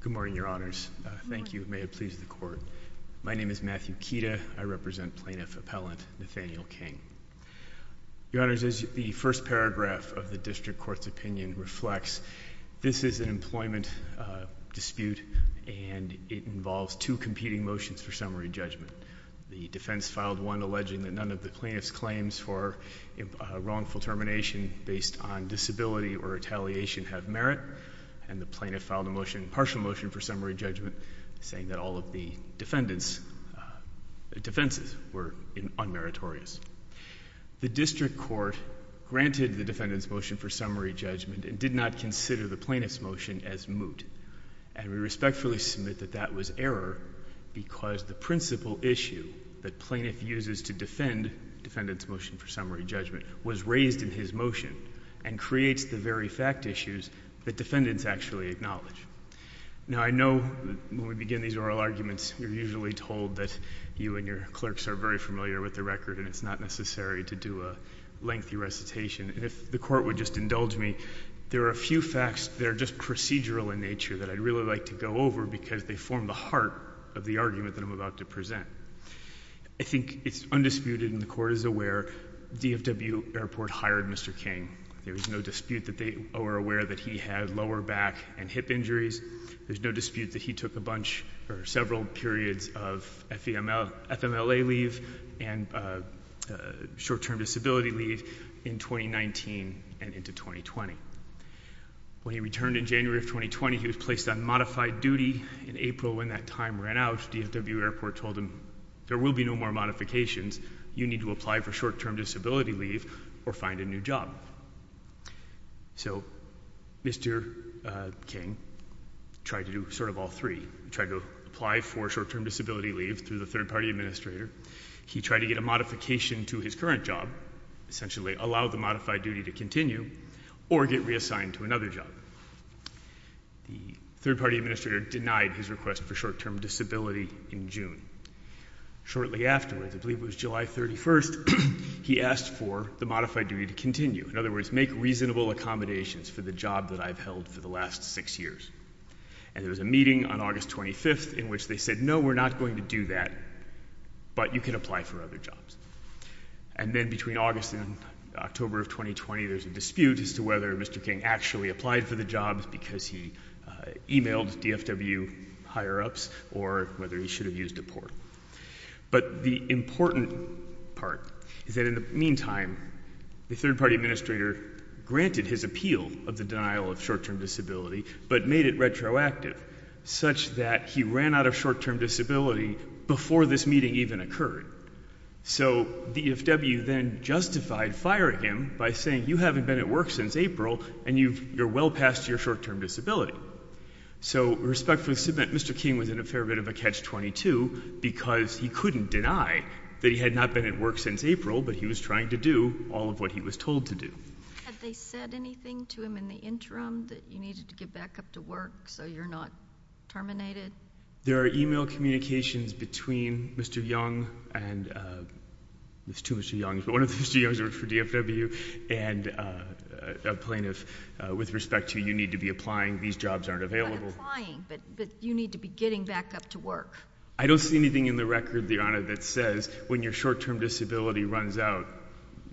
Good morning, Your Honors. Thank you. May it please the Court. My name is Matthew Kita. I represent Plaintiff Appellant Nathaniel King. Your Honors, as the first paragraph of the District Court's opinion reflects, this is an employment dispute and it involves two competing motions for summary judgment. The defense filed one alleging that none of the plaintiff's claims for wrongful termination based on disability or retaliation have merit, and the plaintiff filed a motion, a partial motion for summary judgment, saying that all of the defendant's defenses were unmeritorious. The District Court granted the defendant's motion for summary judgment and did not consider the plaintiff's motion as moot, and we respectfully submit that that was error because the principal issue that plaintiff uses to defend defendant's motion for summary judgment was raised in his motion and creates the very fact issues that defendants actually acknowledge. Now, I know when we begin these oral arguments, we're usually told that you and your clerks are very familiar with the record and it's not necessary to do a lengthy recitation, and if the Court would just indulge me, there are a few facts that are just procedural in nature that I'd really like to go over because they form the heart of the argument that I'm about to present. I think it's undisputed and the Court is aware DFW Airport hired Mr. King. There is no dispute that they were aware that he had lower back and hip injuries. There's no dispute that he took a bunch or several periods of FMLA leave and short-term disability leave in 2019 and into 2020. When he returned in January of 2020, he was placed on modified duty. In April, when that time ran out, DFW Airport told him, there will be no more modifications. You need to apply for short-term disability leave or find a new job. So Mr. King tried to do sort of all three. He tried to apply for short-term disability leave through the third-party administrator. He tried to get a modification to his current job, essentially allow the modified duty to continue or get reassigned to another job. The third-party administrator denied his request for short-term disability in June. Shortly afterwards, I believe it was July 31st, he asked for the modified duty to continue. In other words, make reasonable accommodations for the job that I've held for the last six years. And there was a meeting on August 25th in which they said, no, we're not going to do that, but you can apply for other jobs. And then between August and October of 2020, there's a dispute as to whether Mr. King actually applied for the jobs because he emailed DFW higher-ups or whether he should have used a port. But the important part is that in the meantime, the third-party administrator granted his appeal of the denial of short-term disability, but made it retroactive such that he ran out of short-term disability before this meeting even occurred. So DFW then justified firing him by saying, you haven't been at work since April and you're well past your short-term disability. So respectfully, Mr. King was in a fair bit of a catch-22 because he couldn't deny that he had not been at work since April, but he was trying to do all of what he was told to do. Had they said anything to him in the interim that you needed to get back up to work so you're not terminated? There are email communications between Mr. Young and, there's two Mr. Youngs, but one of the Mr. Youngs worked for DFW, and a plaintiff with respect to, you need to be applying, these jobs aren't available. Not applying, but you need to be getting back up to work. I don't see anything in the record, Your Honor, that says when your short-term disability runs out,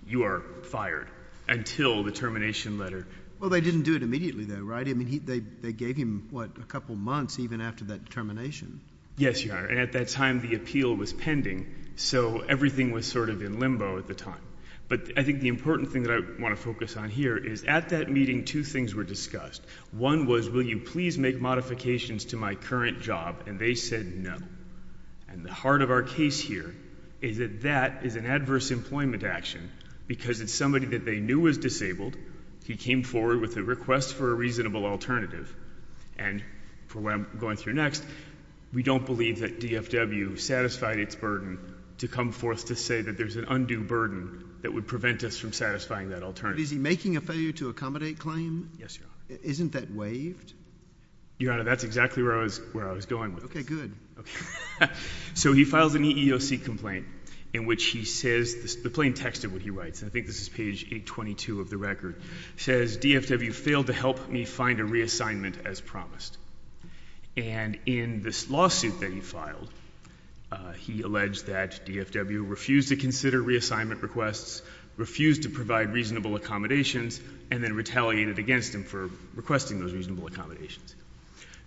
you are fired until the termination letter. Well, they didn't do it immediately, though, right? I mean, they gave him, what, a couple months even after that termination. Yes, Your Honor, and at that time the appeal was pending, so everything was sort of in limbo at the time. But I think the important thing that I want to focus on here is at that meeting two things were discussed. One was, will you please make modifications to my current job, and they said no. And the heart of our case here is that that is an adverse employment action because it's somebody that they knew was disabled, he came forward with a request for a reasonable alternative, and for what I'm going through next, we don't believe that DFW satisfied its burden to come forth to say that there's an undue burden that would prevent us from satisfying that alternative. But is he making a failure to accommodate claim? Yes, Your Honor. Isn't that waived? Your Honor, that's exactly where I was going with this. Okay, good. Okay. So he files an EEOC complaint in which he says, the plain text of what he writes, and I think this is page 822 of the record, says, DFW failed to help me find a reassignment as promised. And in this lawsuit that he filed, he alleged that DFW refused to consider reassignment requests, refused to provide reasonable accommodations, and then retaliated against him for requesting those reasonable accommodations.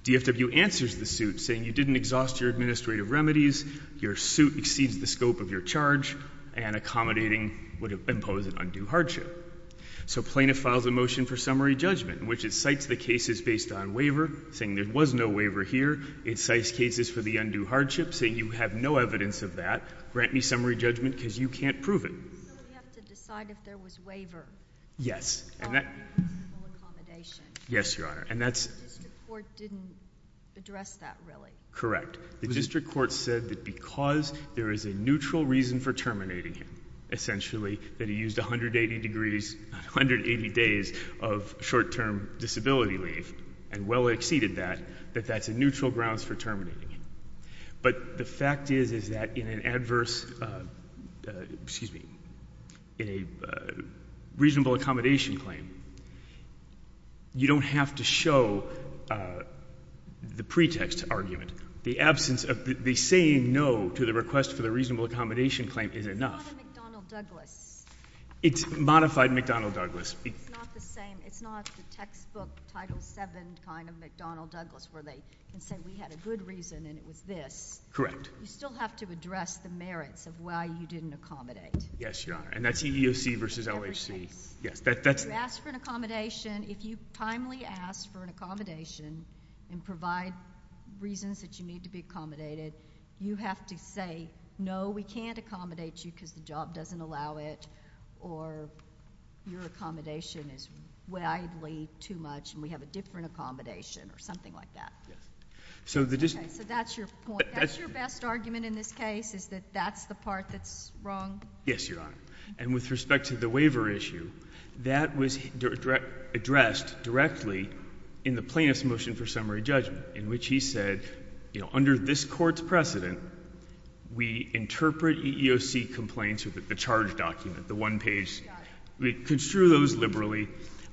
DFW answers the suit saying you didn't exhaust your administrative remedies, your suit exceeds the scope of your charge, and accommodating would impose an undue hardship. So plaintiff files a motion for summary judgment in which it cites the cases based on waiver, saying there was no waiver here. It cites cases for the undue hardship, saying you have no evidence of that. Grant me summary judgment because you can't prove it. So we have to decide if there was waiver? Yes. Or reasonable accommodation. Yes, Your Honor. And that's The district court didn't address that, really. Correct. The district court said that because there is a neutral reason for terminating him, essentially, that he used 180 degrees, 180 days of short-term disability leave and well exceeded that, that that's a neutral grounds for terminating him. But the fact is, is that in an adverse, excuse me, in a reasonable accommodation claim, you don't have to show the pretext argument. The absence of the saying no to the request for the reasonable accommodation claim is enough. It's not a McDonnell-Douglas. It's modified McDonnell-Douglas. It's not the same. It's not the textbook Title VII kind of McDonnell-Douglas, where they can say we had a good reason and it was this. Correct. So, you still have to address the merits of why you didn't accommodate. Yes, Your Honor. And that's EEOC versus OHC. In every case. Yes. You asked for an accommodation. If you timely ask for an accommodation and provide reasons that you need to be accommodated, you have to say, no, we can't accommodate you because the job doesn't allow it or your accommodation is widely too much and we have a different accommodation or something like that. Yes. Okay. So, that's your point. That's your best argument. My best argument in this case is that that's the part that's wrong. Yes, Your Honor. And with respect to the waiver issue, that was addressed directly in the Plaintiff's Motion for Summary Judgment, in which he said, you know, under this Court's precedent, we interpret EEOC complaints with the charge document, the one-page, we construe those liberally.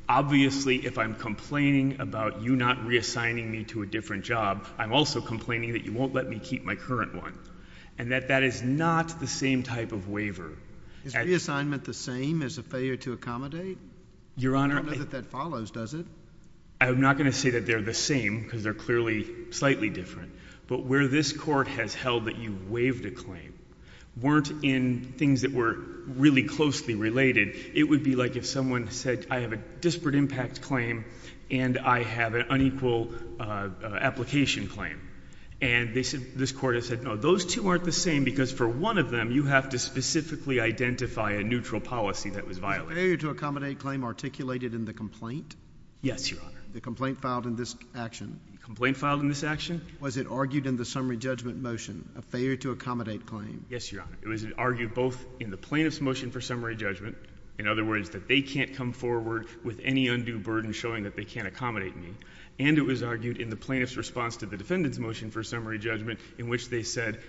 Obviously, if I'm complaining about you not reassigning me to a different job, I'm also complaining that you won't let me keep my current one. And that that is not the same type of waiver. Is reassignment the same as a failure to accommodate? Your Honor. I don't know that that follows, does it? I'm not going to say that they're the same because they're clearly slightly different. But where this Court has held that you waived a claim weren't in things that were really closely related. It would be like if someone said, I have a disparate impact claim and I have an unequal application claim. And this Court has said, no, those two aren't the same because for one of them, you have to specifically identify a neutral policy that was violated. Was the failure to accommodate claim articulated in the complaint? Yes, Your Honor. The complaint filed in this action? Complaint filed in this action? Was it argued in the Summary Judgment motion, a failure to accommodate claim? Yes, Your Honor. It was argued both in the Plaintiff's Motion for Summary Judgment, in other words, that they can't come forward with any undue burden showing that they can't accommodate me, and it was argued in the Plaintiff's response to the Defendant's Motion for Summary Judgment in which they said,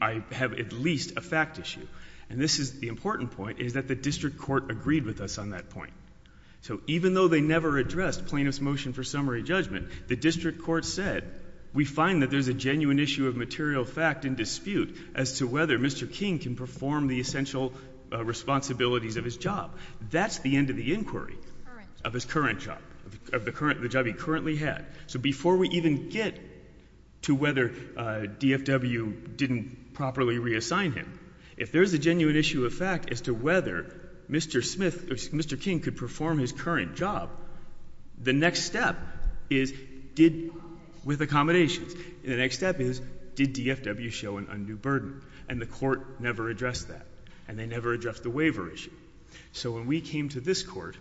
I have at least a fact issue. And this is the important point, is that the District Court agreed with us on that point. So even though they never addressed Plaintiff's Motion for Summary Judgment, the District Court said, we find that there's a genuine issue of material fact in dispute as to whether Mr. King can perform the essential responsibilities of his job. That's the end of the inquiry of his current job, of the job he currently had. So before we even get to whether DFW didn't properly reassign him, if there's a genuine issue of fact as to whether Mr. Smith, Mr. King could perform his current job, the next step is, did, with accommodations. And the next step is, did DFW show an undue burden? And the Court never addressed that. And they never addressed the waiver issue. So when we came to this Court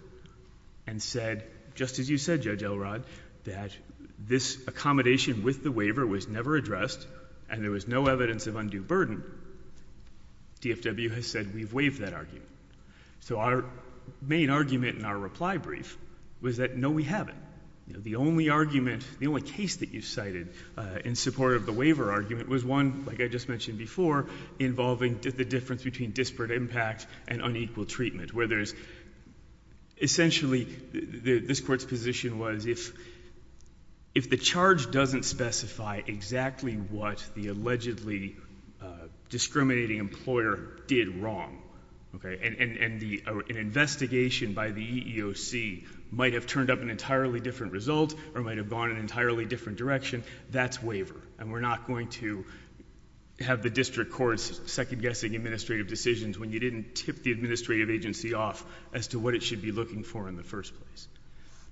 and said, just as you said, Judge Elrod, that this accommodation with the waiver was never addressed, and there was no evidence of undue burden, DFW has said, we've waived that argument. So our main argument in our reply brief was that, no, we haven't. The only argument, the only case that you cited in support of the waiver argument was one, like I just mentioned before, involving the difference between disparate impact and unequal treatment, where there's essentially, this Court's position was, if the charge doesn't specify exactly what the allegedly discriminating employer did wrong, and an investigation by the EEOC might have turned up an entirely different result or might have gone an entirely different direction, that's waiver. And we're not going to have the district courts second-guessing administrative decisions when you didn't tip the administrative agency off as to what it should be looking for in the first place.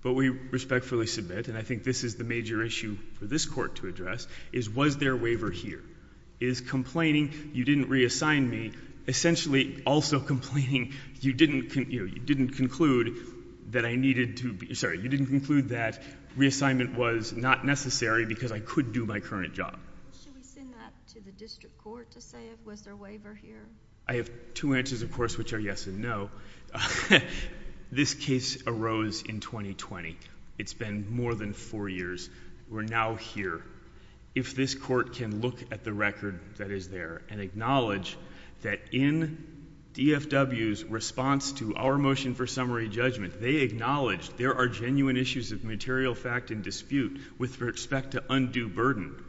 But we respectfully submit, and I think this is the major issue for this Court to address, is was there waiver here? Is complaining you didn't reassign me essentially also complaining you didn't conclude that I needed to be, sorry, you didn't conclude that reassignment was not necessary because I could do my current job? Should we send that to the district court to say if there was waiver here? I have two answers, of course, which are yes and no. This case arose in 2020. It's been more than four years. We're now here. If this Court can look at the record that is there and acknowledge that in DFW's response to our motion for summary judgment, they acknowledged there are genuine issues of material fact and dispute with respect to undue burden,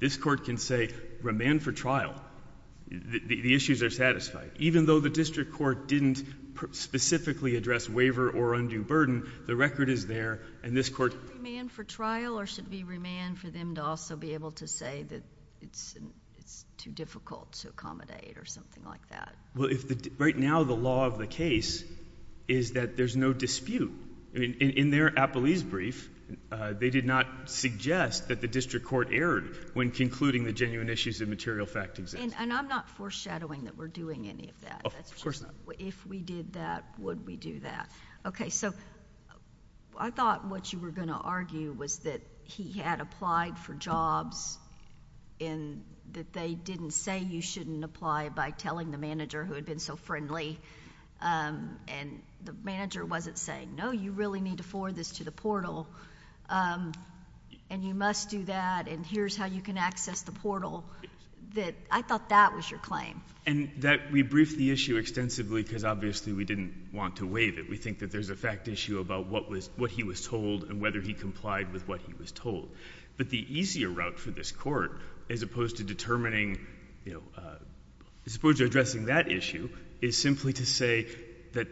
this Court can say remand for trial. The issues are satisfied. Even though the district court didn't specifically address waiver or undue burden, the record is there, and this Court — Should it be remand for trial or should it be remand for them to also be able to say that it's too difficult to accommodate or something like that? Well, right now, the law of the case is that there's no dispute. In their appellee's brief, they did not suggest that the district court erred when concluding the genuine issues of material fact exist. And I'm not foreshadowing that we're doing any of that. Of course not. If we did that, would we do that? Okay, so I thought what you were going to argue was that he had applied for jobs and that they didn't say you shouldn't apply by telling the manager who had been so friendly, and the manager wasn't saying, no, you really need to forward this to the portal, and you must do that, and here's how you can access the portal. I thought that was your claim. And that we briefed the issue extensively because, obviously, we didn't want to waive it. We think that there's a fact issue about what he was told and whether he complied with what he was told. But the easier route for this Court, as opposed to determining — as opposed to addressing that issue, is simply to say that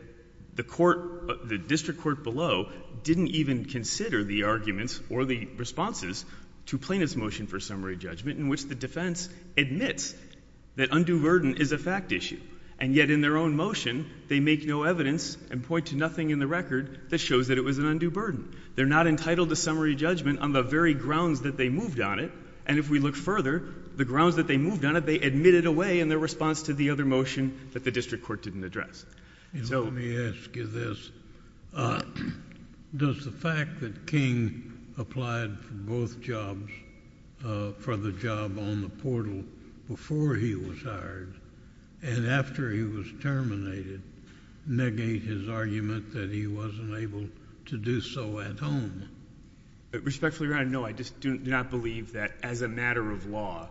the court — the district court below didn't even consider the arguments or the responses to plaintiff's motion for summary judgment in which the defense admits that undue burden is a fact issue, and yet in their own motion, they make no evidence and point to nothing in the record that shows that it was an undue burden. They're not entitled to summary judgment on the very grounds that they moved on it, and if we look further, the grounds that they moved on it, they admitted away in their response to the other motion that the district court didn't address. JUSTICE KENNEDY Let me ask you this. Does the fact that King applied for both jobs — for the job on the portal before he was hired, and after he was terminated, negate his argument that he wasn't able to do so at home? MR. GOLDSTEIN Respectfully, Your Honor, no. I just do not believe that as a matter of law,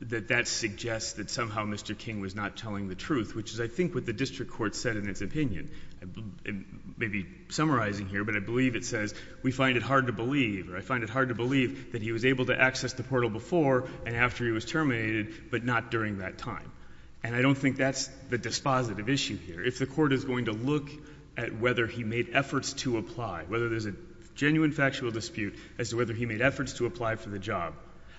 that that suggests that somehow Mr. King was not telling the truth, which is, I think, what the district court said in its opinion. Maybe summarizing here, but I believe it says, we find it hard to believe, or I find it hard to believe that he was able to access the portal before and after he was terminated, but not during that time. And I don't think that's the dispositive issue here. If the court is going to look at whether he made efforts to apply, whether there's a genuine factual dispute as to whether he made efforts to apply for the job,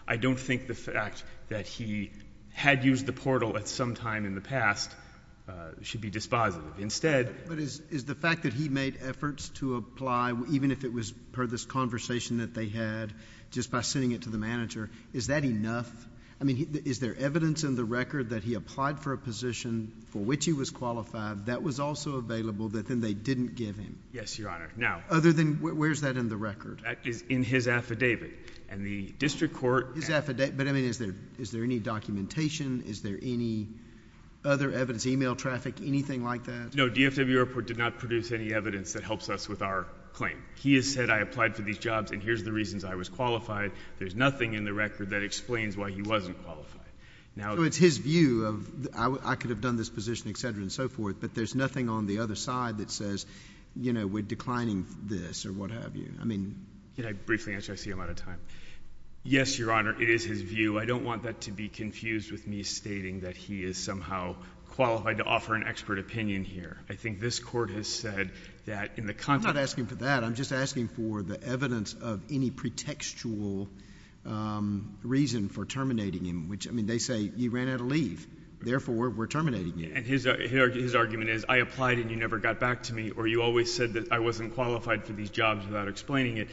I don't think the fact that he had used the portal at some time in the past should be dispositive. Instead — JUSTICE SCALIA But is the fact that he made efforts to apply, even if it was per this conversation that they had, just by sending it to the manager, is that enough? I mean, is there evidence in the record that he applied for a position for which he was qualified, that was also available, that then they didn't give him? MR. GOLDSTEIN Yes, Your Honor. Now — JUSTICE SCALIA Other than — where's that in the record? MR. GOLDSTEIN That is in his affidavit. And the district court — JUSTICE SCALIA His affidavit. But, I mean, is there — is there any documentation? Is there any other evidence, email traffic, anything like that? MR. GOLDSTEIN No. DFW Airport did not produce any evidence that helps us with our claim. He has said, I applied for these jobs, and here's the reasons I was qualified. There's nothing in the record that explains why he wasn't qualified. Now — JUSTICE SCALIA So it's his view of — I could have done this position, et cetera, and so forth, but there's nothing on the other side that says, you know, we're declining this or what have you. I mean — MR. GOLDSTEIN Can I briefly answer? I see I'm out of time. Yes, Your Honor, it is his view. I don't want that to be confused with me stating that he is somehow qualified to offer an expert opinion here. I think this Court has said that in the context — JUSTICE SCALIA I'm not asking for that. I'm just asking for the evidence of any pretextual reason for terminating him, which — I mean, they say you ran out of leave. Therefore, we're terminating you. MR. GOLDSTEIN And his — his argument is, I applied and you never got back to me, or you always said that I wasn't qualified for these jobs without explaining it.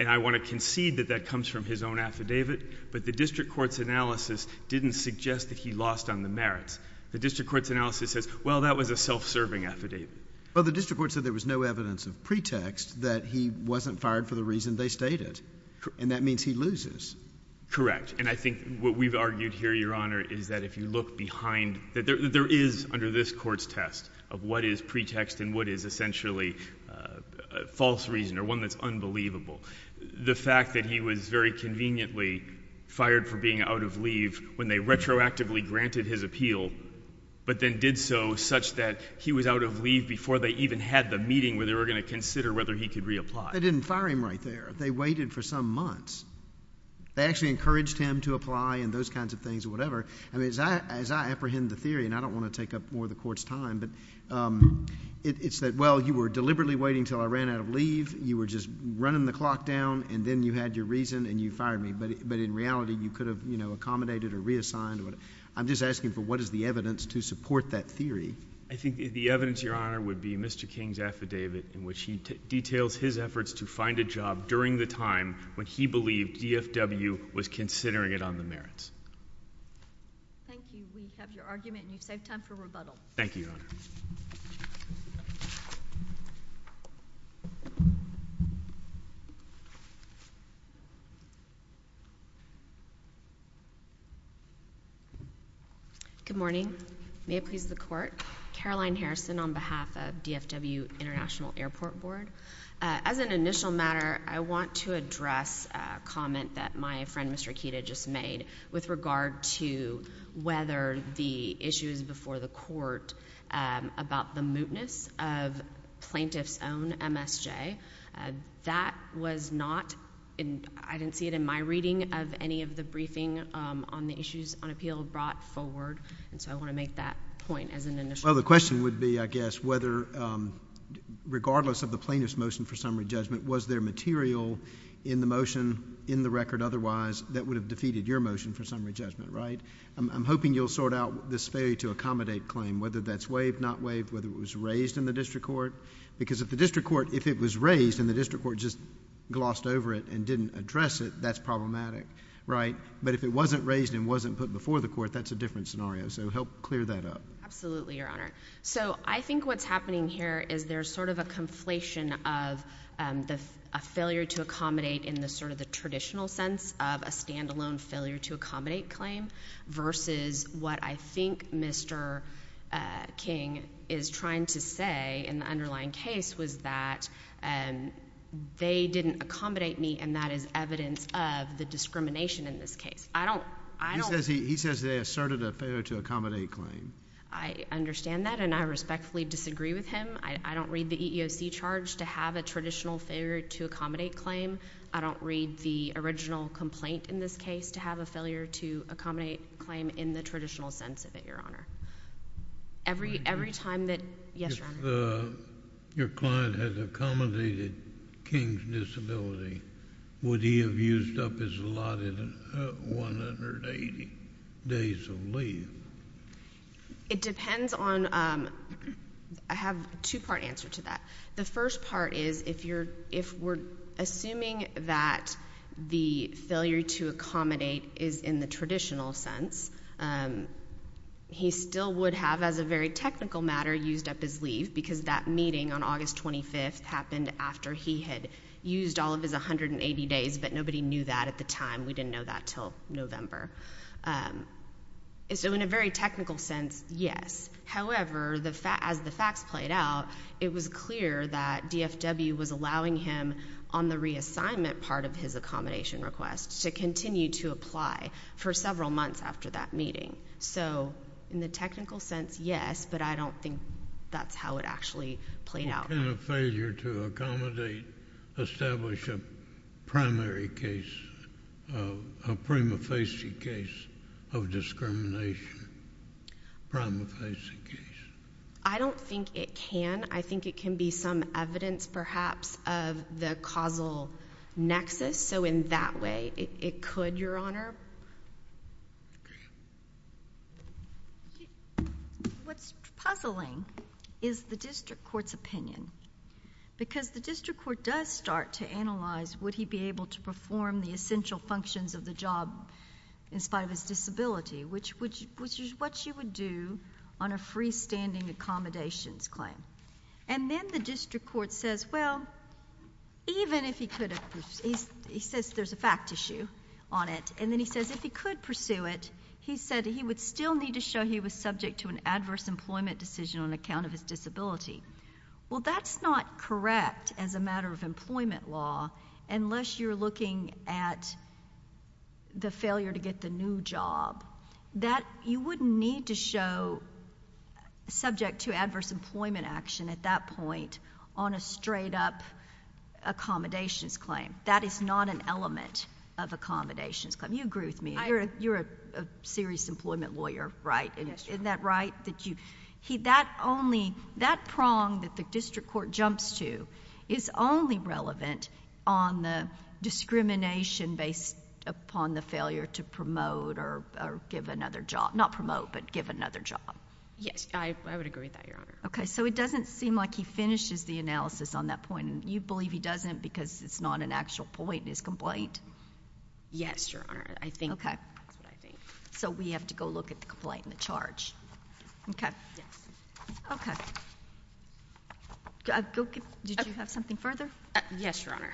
And I want to concede that that comes from his own affidavit, but the district court's analysis didn't suggest that he lost on the merits. The district court's analysis says, well, that was a self-serving affidavit. JUSTICE SCALIA Well, the district court said there was no evidence of pretext that he wasn't fired for the reason they stated, and that means he MR. GOLDSTEIN Correct. And I think what we've argued here, Your Honor, is that if you look behind — that there is, under this Court's test of what is pretext and what is essentially a false reason or one that's unbelievable, the fact that he was very conveniently fired for being out of leave when they retroactively granted his appeal, but then did so such that he was out of leave before they even had the meeting where they were going to consider whether he could reapply. MR. WALENSKY They didn't fire him right there. They waited for some months. They actually encouraged him to apply and those kinds of things or whatever. I mean, as I — as I apprehend the theory, and I don't want to take up more of the Court's time, but it's that, well, you were deliberately waiting until I ran out of leave. You were just running the clock down, and then you had your reason, and you fired me. But in reality, you could have, you know, accommodated or reassigned or whatever. I'm just asking for what is the evidence to support that theory. MR. GOLDSTEIN I think the evidence, Your Honor, would be Mr. King's affidavit in which he details his efforts to find a job during the time when he believed DFW was considering it on the merits. MS. GOTTLIEB Thank you. We have your argument, and you have your argument. MS. HARRISON Good morning. May it please the Court? Caroline Harrison on behalf of DFW International Airport Board. As an initial matter, I want to address a comment that my friend, Mr. Akita, just made with regard to whether the issues before the Court about the mootness of plaintiff's own MSJ, that was not, I didn't see it in my reading of any of the briefing on the issues on appeal brought forward, and so I want to make that point as an initial point. MR. GOLDSTEIN Well, the question would be, I guess, whether regardless of the plaintiff's motion for summary judgment, was there material in the motion in the record otherwise that would have defeated your motion for summary judgment, right? I'm hoping you'll sort out this failure to accommodate claim, whether that's waived, not waived, whether it was raised in the district court, because if the district court, if it was raised and the district court just glossed over it and didn't address it, that's problematic, right? But if it wasn't raised and wasn't put before the Court, that's a different scenario, so help clear that up. MS. HARRISON Absolutely, Your Honor. So I think what's happening here is there's sort of a conflation of a failure to accommodate in the sort of the traditional sense of a standalone failure to accommodate claim versus what I think Mr. King is trying to say in the underlying case was that they didn't accommodate me, and that is evidence of the discrimination in this case. I don't, I don't MR. GOLDSTEIN He says they asserted a failure to accommodate claim. MS. HARRISON I understand that, and I respectfully disagree with him. I don't read the EEOC charge to have a traditional failure to accommodate claim. I don't read the original complaint in this case to have a failure to accommodate claim in the traditional sense of it, Your Honor. Every, every time that, yes, Your Honor. MR. GOLDSTEIN If the, your client has accommodated King's disability, would he have used up his allotted 180 days of leave? MS. HARRISON It depends on, I have a two-part answer to that. The first part is if you're, if we're assuming that the failure to accommodate is in the traditional sense, he still would have, as a very technical matter, used up his leave because that meeting on August 25th happened after he had used all of his 180 days, but nobody knew that at the time. We didn't know that until November. So in a very technical sense, yes. However, as the facts played out, it was clear that DFW was allowing him on the reassignment part of his accommodation request to continue to apply for several months after that meeting. So in the technical sense, yes, but I don't think that's how it actually played out. MR. GOLDSTEIN What kind of failure to accommodate establish a primary case, a prima facie case of discrimination? MS. HARRISON I don't think it can. I think it can be some evidence perhaps of the causal nexus. So in that way, it could, Your Honor. MS. COOPER What's puzzling is the District Court's opinion because the District Court does start to analyze would he be able to perform the essential functions of the job in spite of his disability, which is what you would do on a freestanding accommodations claim. And then the District Court says, well, even if he could, he says there's a fact issue on it, and then he says if he could pursue it, he said he would still need to show he was subject to an adverse employment decision on account of his disability. Well, that's not correct as a matter of employment law unless you're looking at the failure to get the new job. You wouldn't need to show subject to adverse employment action at that point on a straight-up accommodations claim. That is not an element of accommodations claim. You agree with me. You're a serious employment lawyer, right? Isn't that right? That prong that the District Court jumps to is only relevant on the discrimination based upon the failure to promote or give another job. Not promote, but give another job. MS. COOPER Yes. I would agree with that, Your Honor. MS. COOPER Okay. So it doesn't seem like he finishes the analysis on that point. You believe he doesn't because it's not an actual point in his complaint? MS. COOPER Yes, Your Honor. I think that's what I think. MS. COOPER Okay. So we have to go look at the complaint and the charge. Okay. MS. COOPER Okay. Did you have something further? MS. COOPER Yes, Your Honor.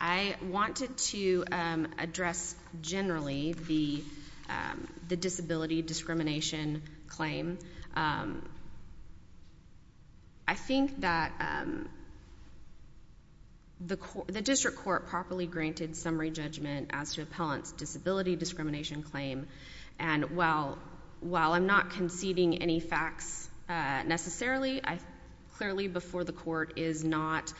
I wanted to address generally the disability discrimination claim. I think that the District Court properly granted summary judgment as to appellant's disability discrimination claim. And while I'm not conceding any facts necessarily, clearly before the court is not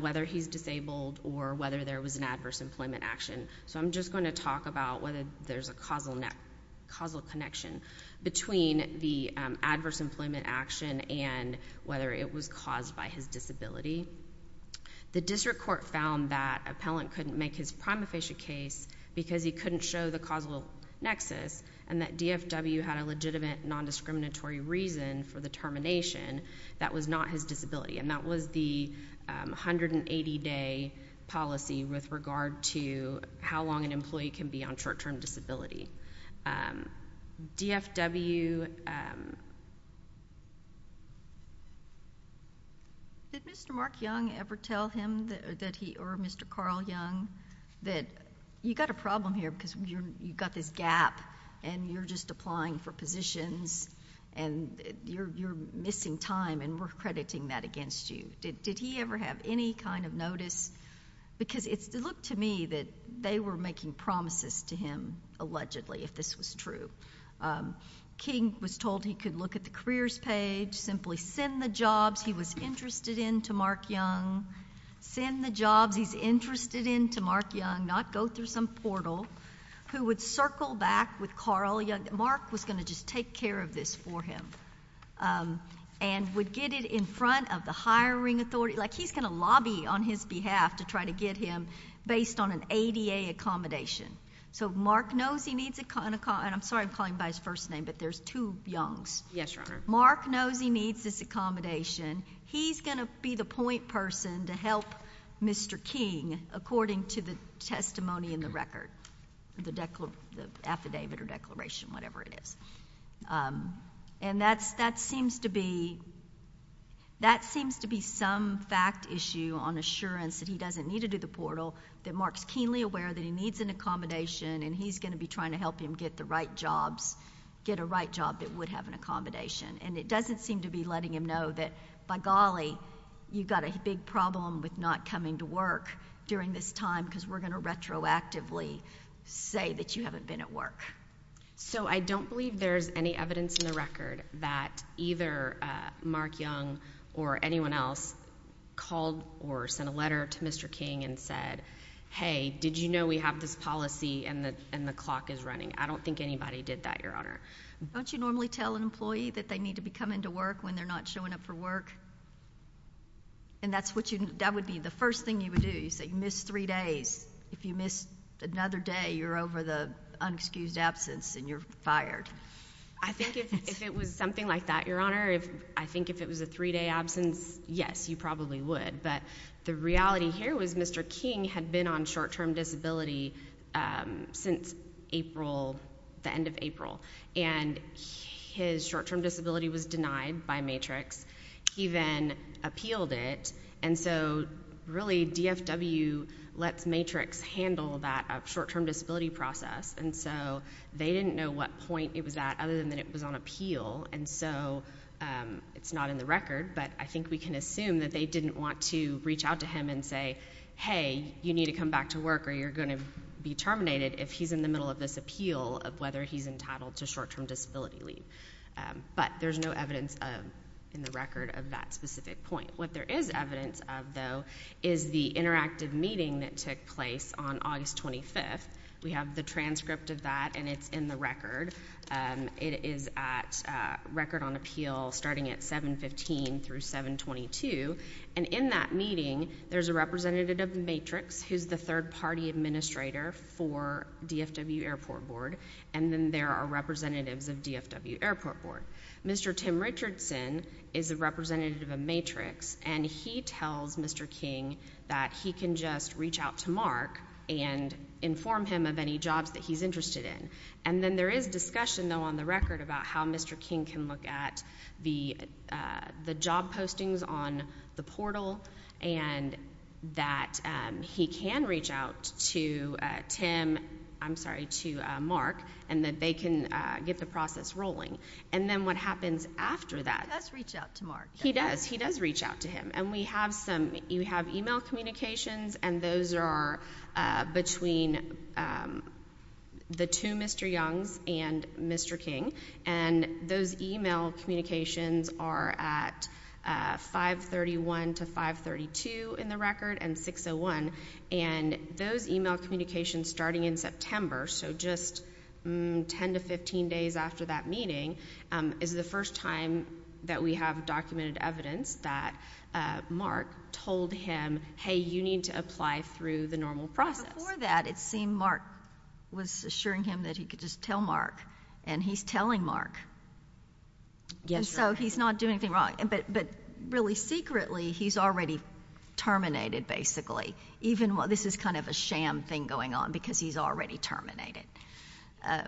whether he's disabled or whether there was an adverse employment action. So I'm just going to talk about whether there's a causal connection between the adverse employment action and whether it was caused by his disability. The District Court found that appellant couldn't make his prima facie case because he couldn't show the causal nexus and that DFW had a legitimate non-discriminatory reason for the termination that was not his disability. And that was the 180-day policy with regard to how long an employee can be on short-term disability. DFW... MS. COOPER Did Mr. Mark Young ever tell him that he or Mr. Carl Young that you got a problem here because you've got this gap and you're just applying for positions and you're missing time and we're crediting that against you? Did he ever have any kind of notice? Because it looked to me that they were making promises to him, allegedly, if this was true. King was told he could look at the careers page, simply send the jobs he was interested in to Mark Young, send the jobs he's interested in to Mark Young, not go through some portal, who would circle back with Carl Young. Mark was going to just take care of this for him and would get it in front of the hiring authority. Like he's going to lobby on his behalf to try to get him based on an ADA accommodation. So Mark knows he needs a kind of... And I'm sorry I'm calling him by his first name, but there's two Youngs. Mark knows he needs this accommodation. He's going to be the point person to help Mr. King according to the testimony in the record, the affidavit or declaration, whatever it is. And that seems to be some fact issue on assurance that he doesn't need to do the portal, that Mark's keenly aware that he needs an accommodation and he's going to be trying to help him get the right jobs, get a right job that would have an accommodation. And it doesn't seem to be letting him know that, by golly, you've got a big problem with not coming to work during this time because we're going to retroactively say that you haven't been at work. So I don't believe there's any evidence in the record that either Mark Young or anyone else called or sent a letter to Mr. King and said, hey, did you know we have this policy and the clock is running? I don't think anybody did that, Your Honor. Don't you normally tell an employee that they need to be coming to work when they're not showing up for work? And that would be the first thing you would do. You say you missed three days. If you missed another day, you're over the unexcused absence and you're fired. I think if it was something like that, Your Honor, I think if it was a three-day absence, yes, you probably would. But the reality here was Mr. King had been on short-term disability since April, the end of April. And his short-term disability was denied by Matrix. He then appealed it. And so really, DFW lets Matrix handle that short-term disability process. And so they didn't know what point it was at other than that it was on appeal. And so it's not in the record. But I think we can assume that they didn't want to reach out to him and say, hey, you need to come back to work or you're going to be terminated if he's in the middle of this appeal of whether he's entitled to short-term disability leave. But there's no evidence in the record of that specific point. What there is evidence of, though, is the interactive meeting that took place on August 25th. We have the transcript of that, and it's in the record. It is at Record on Appeal starting at 715 through 722. And in that meeting, there's a representative of Matrix who's the third-party administrator for DFW Airport Board. And then there are representatives of DFW Airport Board. Mr. Tim Richardson is a representative of Matrix, and he tells Mr. King that he can just reach out to Mark and inform him of any jobs that he's interested in. And then there is discussion, though, on the record about how Mr. King can look at the job postings on the portal and that he can reach out to Tim, I'm sorry, to Mark, and that they can get the process rolling. And then what happens after that? He does reach out to Mark. He does. He does reach out to him. And we have some, we have email communications, and those are between the two Mr. Youngs and Mr. King. And those email communications are at 531 to 532 in the record and 601. And those email communications starting in September, so just 10 to 15 days after that meeting, is the first time that we have documented evidence that Mark told him, hey, you need to apply through the normal process. Before that, it seemed Mark was assuring him that he could just tell Mark, and he's telling Mark. Yes, Your Honor. So he's not doing anything wrong. But really secretly, he's already terminated, basically, even while this is kind of a sham thing going on, because he's already terminated,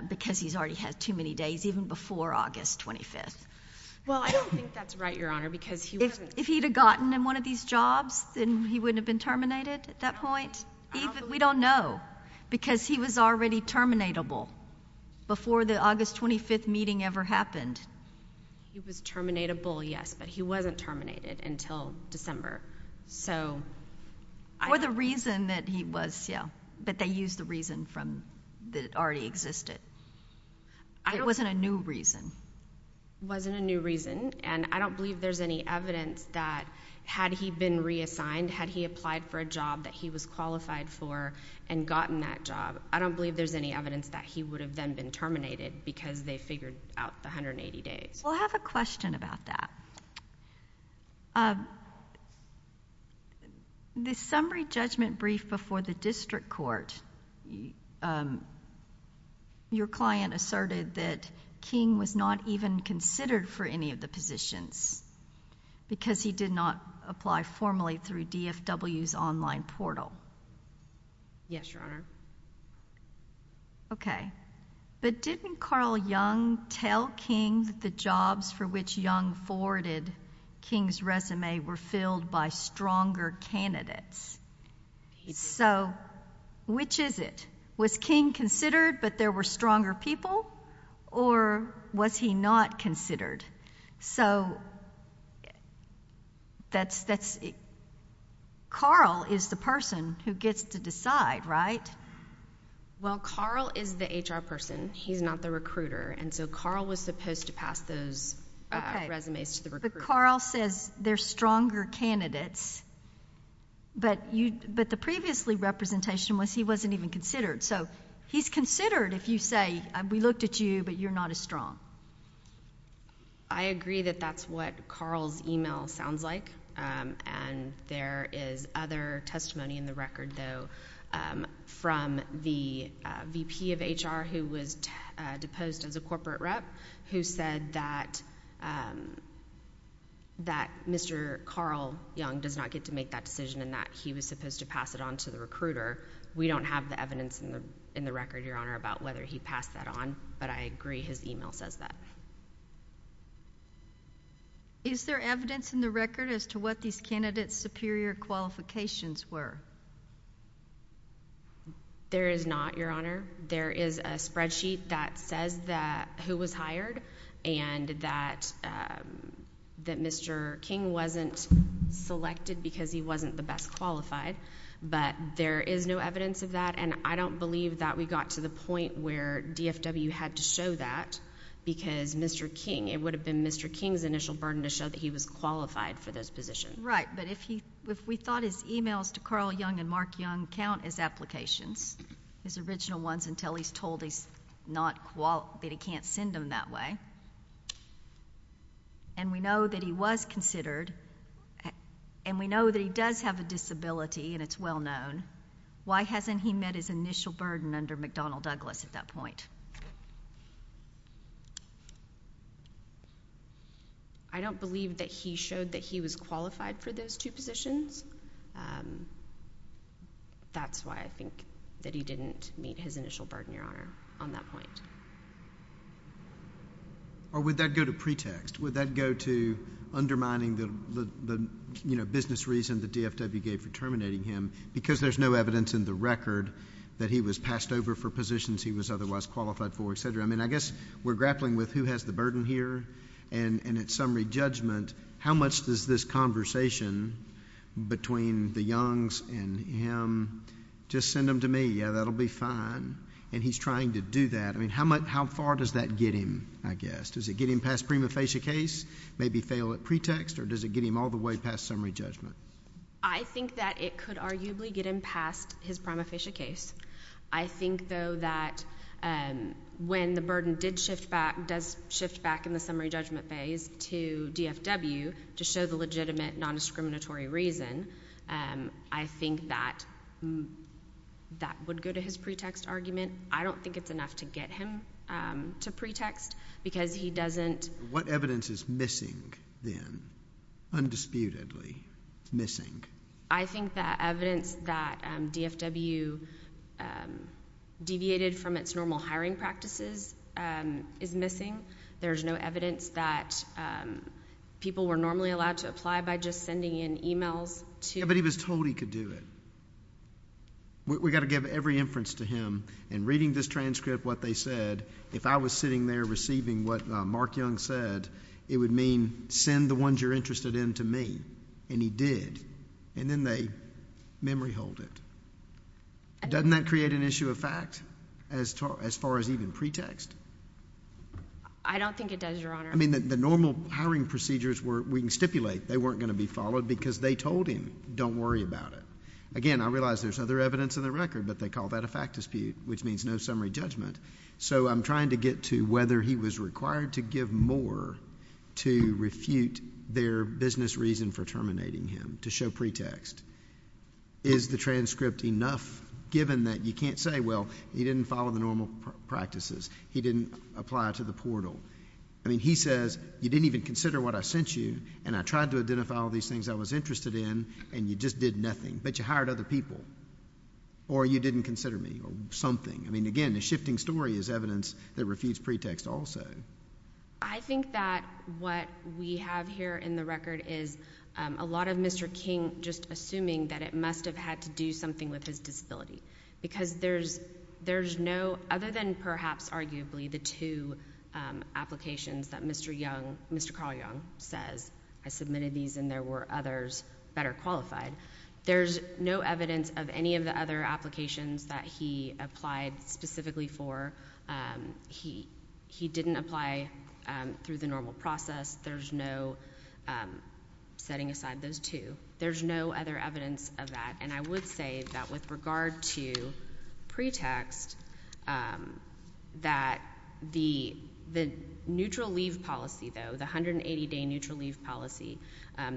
because he's already had too many days, even before August 25th. Well, I don't think that's right, Your Honor, because he wasn't... If he'd have gotten in one of these jobs, then he wouldn't have been terminated at that point? We don't know, because he was already terminatable before the August 25th meeting ever happened. He was terminatable, yes, but he wasn't terminated until December, so... Or the reason that he was, yeah, but they used the reason from, that already existed. It wasn't a new reason. It wasn't a new reason, and I don't believe there's any evidence that, had he been reassigned, had he applied for a job that he was qualified for and gotten that job, I don't believe there's any evidence that he would have then been terminated, because they figured out the 180 days. We'll have a question about that. The summary judgment brief before the district court, your client asserted that King was not even considered for any of the positions, because he did not apply formally through DFW's online portal. Yes, Your Honor. Okay, but didn't Carl Young tell King that the jobs for which Young forwarded King's resume, which is it? Was King considered, but there were stronger people, or was he not considered? So that's, Carl is the person who gets to decide, right? Well, Carl is the HR person. He's not the recruiter, and so Carl was supposed to pass those resumes to the recruiter. Okay, but Carl says there's stronger candidates, but the previously representation was he wasn't even considered. So he's considered, if you say, we looked at you, but you're not as strong. I agree that that's what Carl's email sounds like, and there is other testimony in the record, though, from the VP of HR, who was deposed as a corporate rep, who said that Mr. Carl Young does not get to make that decision, and that he was supposed to pass it on to the recruiter. We don't have the evidence in the record, Your Honor, about whether he passed that on, but I agree his email says that. Is there evidence in the record as to what these candidates' superior qualifications were? There is not, Your Honor. There is a spreadsheet that says who was hired and that Mr. King wasn't selected because he wasn't the best qualified, but there is no evidence of that, and I don't believe that we got to the point where DFW had to show that, because Mr. King, it would have been Mr. King's initial burden to show that he was qualified for those positions. Right, but if we thought his emails to Carl Young and Mark Young count as applications, his original ones, until he's told that he can't send them that way, and we know that he was considered, and we know that he does have a disability and it's well known, why hasn't he met his initial burden under McDonnell Douglas at that point? I don't believe that he showed that he was qualified for those two positions. That's why I think that he didn't meet his initial burden, Your Honor, on that point. Or would that go to pretext? Would that go to undermining the business reason that DFW gave for terminating him, because there's no evidence in the record that he was passed over for positions he was otherwise qualified for, et cetera? I mean, I guess we're grappling with who has the burden here, and at summary judgment, how much does this conversation between the Youngs and him, just send them to me, yeah, that'll be fine, and he's trying to do that. I mean, how far does that get him, I guess? Does it get him past prima facie case, maybe fail at pretext, or does it get him all the way past summary judgment? I think that it could arguably get him past his prima facie case. I think, though, that when the burden does shift back in the summary judgment phase to DFW to show the legitimate nondiscriminatory reason, I think that that would go to his pretext argument. I don't think it's enough to get him to pretext, because he doesn't. What evidence is missing, then, undisputedly missing? I think that evidence that DFW deviated from its normal hiring practices is missing. There's no evidence that people were normally allowed to apply by just sending in e-mails to... Yeah, but he was told he could do it. We've got to give every inference to him, and reading this transcript, what they said, if I was sitting there receiving what Mark Young said, it would mean send the ones you're interested in to me, and he did, and then they memory hold it. Doesn't that create an issue of fact as far as even pretext? I don't think it does, Your Honor. I mean, the normal hiring procedures were... we can stipulate they weren't going to be followed because they told him, don't worry about it. Again, I realize there's other evidence in the record, but they call that a fact dispute, which means no summary judgment. So I'm trying to get to whether he was required to give more to refute their business reason for terminating him, to show pretext. Is the transcript enough, given that you can't say, well, he didn't follow the normal practices, he didn't apply to the portal? I mean, he says, you didn't even consider what I sent you, and I tried to identify all these things I was interested in, and you just did nothing, but you hired other people, or you didn't consider me, or something. I mean, again, the shifting story is evidence that refutes pretext also. I think that what we have here in the record is a lot of Mr. King just assuming that it must have had to do something with his disability, because there's no... other than perhaps arguably the two applications that Mr. Carl Young says, I submitted these and there were others better qualified. There's no evidence of any of the other applications that he applied specifically for. He didn't apply through the normal process. There's no setting aside those two. There's no other evidence of that, and I would say that with regard to pretext, that the neutral leave policy, though, the 180-day neutral leave policy,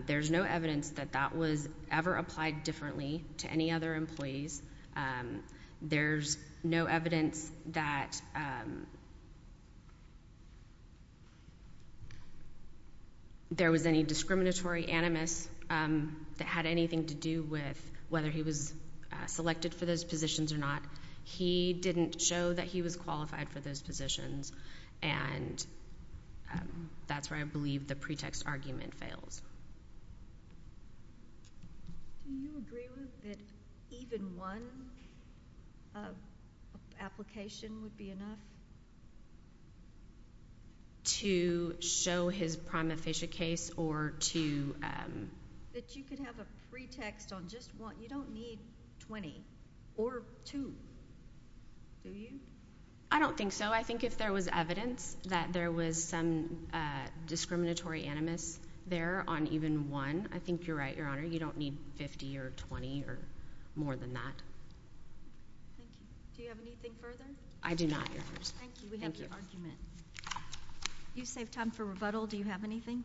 there's no evidence that that was ever applied differently to any other employees. There's no evidence that there was any discriminatory animus that had anything to do with whether he was selected for those positions or not. He didn't show that he was qualified for those positions, and that's where I believe the pretext argument fails. Do you agree, Ruth, that even one application would be enough? To show his prima facie case or to... That you could have a pretext on just one. You don't need 20 or two, do you? I don't think so. I think if there was evidence that there was some discriminatory animus there on even one, I think you're right, Your Honor. You don't need 50 or 20 or more than that. Thank you. Do you have anything further? I do not, Your Honor. Thank you. We have your argument. You saved time for rebuttal. Do you have anything?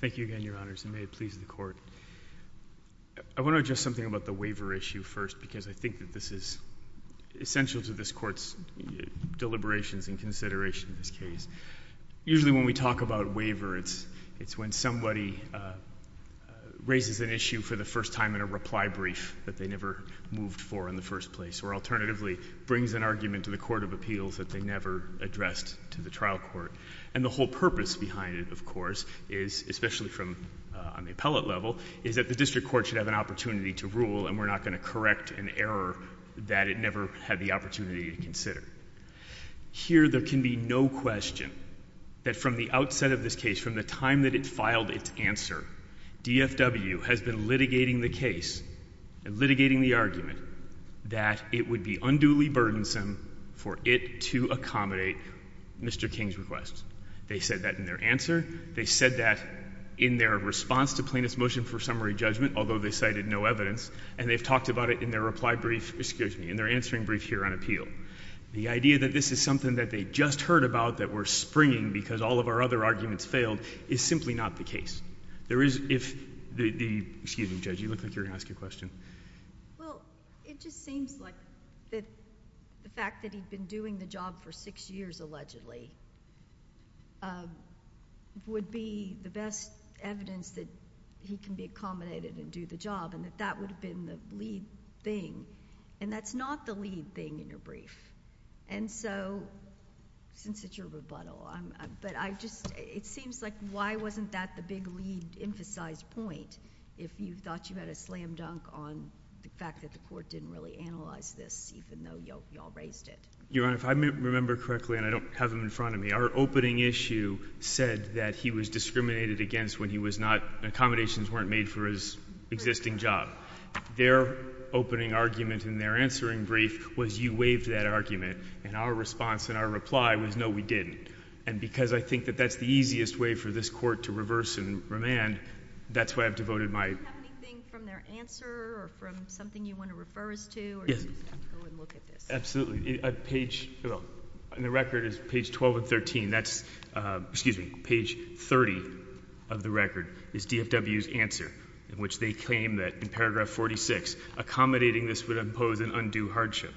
Thank you again, Your Honors, and may it please the Court. I want to address something about the waiver issue first because I think that this is essential to this Court's deliberations and consideration of this case. Usually when we talk about waiver, it's when somebody raises an issue for the first time in a reply brief that they never moved for in the first place, or alternatively, brings an argument to the Court of Appeals that they never addressed to the trial court. And the whole purpose behind it, of course, especially on the appellate level, is that the district court should have an opportunity to rule and we're not going to correct an error that it never had the opportunity to consider. Here, there can be no question that from the outset of this case, from the time that it filed its answer, DFW has been litigating the case and litigating the argument that it would be unduly burdensome for it to accommodate Mr. King's request. They said that in their answer. They said that in their response to plaintiff's motion for summary judgment, although they cited no evidence. And they've talked about it in their reply brief, excuse me, in their answering brief here on appeal. The idea that this is something that they just heard about that we're springing because all of our other arguments failed is simply not the case. There is, if the, excuse me Judge, you look like you're going to ask a question. Well, it just seems like that the fact that he'd been doing the job for six years, allegedly, would be the best evidence that he can be accommodated and do the job and that that would have been the lead thing. And that's not the lead thing in your brief. And so, since it's your rebuttal, but I just, it seems like why wasn't that the big lead emphasized point if you thought you had a slam dunk on the fact that the court didn't really analyze this even though y'all raised it? Your Honor, if I remember correctly, and I don't have him in front of me, our opening issue said that he was discriminated against when he was not, accommodations weren't made for his existing job. Their opening argument in their answering brief was you waived that argument and our response and our reply was no, we didn't. And because I think that that's the easiest way for this court to reverse and remand, that's why I've devoted my... Do you have anything from their answer or from something you want to refer us to? Yes. Or do you just want to go and look at this? Absolutely. A page, the record is page 12 and 13. That's, excuse me, page 30 of the record is DFW's answer in which they claim that in paragraph 46, accommodating this would impose an undue hardship.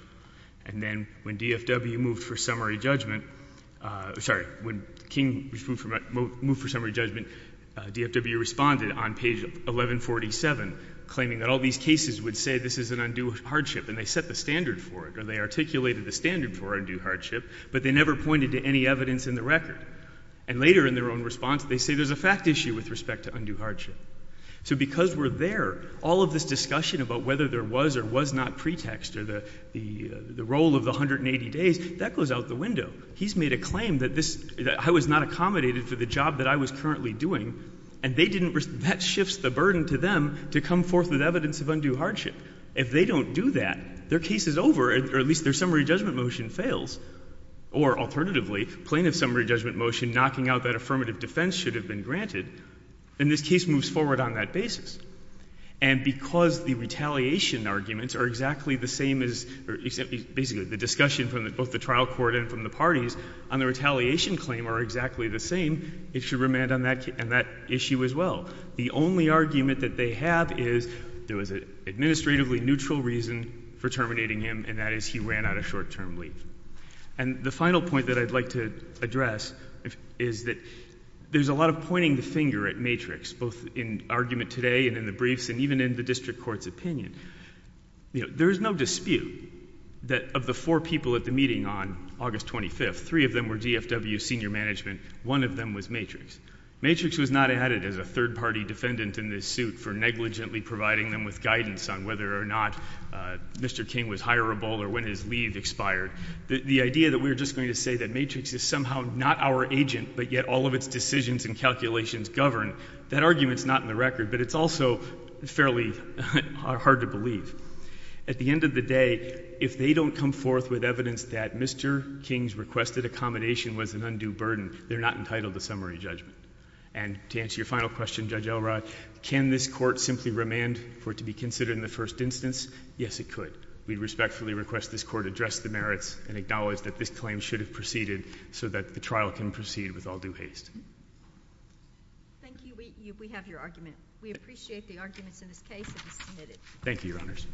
And then when DFW moved for summary judgment, sorry, when King moved for summary judgment, DFW responded on page 1147, claiming that all these cases would say this is an undue hardship and they set the standard for it or they articulated the standard for undue hardship, but they never pointed to any evidence in the record. And later in their own response, they say there's a fact issue with respect to undue hardship. So because we're there, all of this discussion about whether there was or was not pretext or the role of the 180 days, that goes out the window. He's made a claim that this... I was not accommodated for the job that I was currently doing and they didn't... That shifts the burden to them to come forth with evidence of undue hardship. If they don't do that, their case is over or at least their summary judgment motion fails. Or alternatively, plain of summary judgment motion, knocking out that affirmative defense should have been granted, then this case moves forward on that basis. And because the retaliation arguments are exactly the same as... basically the discussion from both the trial court and from the parties on the retaliation claim are exactly the same, it should remand on that issue as well. The only argument that they have is there was an administratively neutral reason for terminating him and that is he ran out of short-term leave. And the final point that I'd like to address, is that there's a lot of pointing the finger at Matrix both in argument today and in the briefs and even in the district court's opinion. There is no dispute that of the four people at the meeting on August 25th, three of them were DFW senior management, one of them was Matrix. Matrix was not added as a third-party defendant in this suit for negligently providing them with guidance on whether or not Mr. King was hireable or when his leave expired. The idea that we're just going to say that Matrix is somehow not our agent but yet all of its decisions and calculations govern, that argument's not in the record but it's also fairly hard to believe. At the end of the day, if they don't come forth with evidence that Mr. King's requested accommodation was an undue burden, they're not entitled to summary judgment. And to answer your final question, Judge Elrod, can this court simply remand for it to be considered in the first instance? Yes, it could. We respectfully request this court address the merits and acknowledge that this claim should have proceeded so that the trial can proceed with all due haste. Thank you. We have your argument. We appreciate the arguments in this case. Thank you, Your Honors.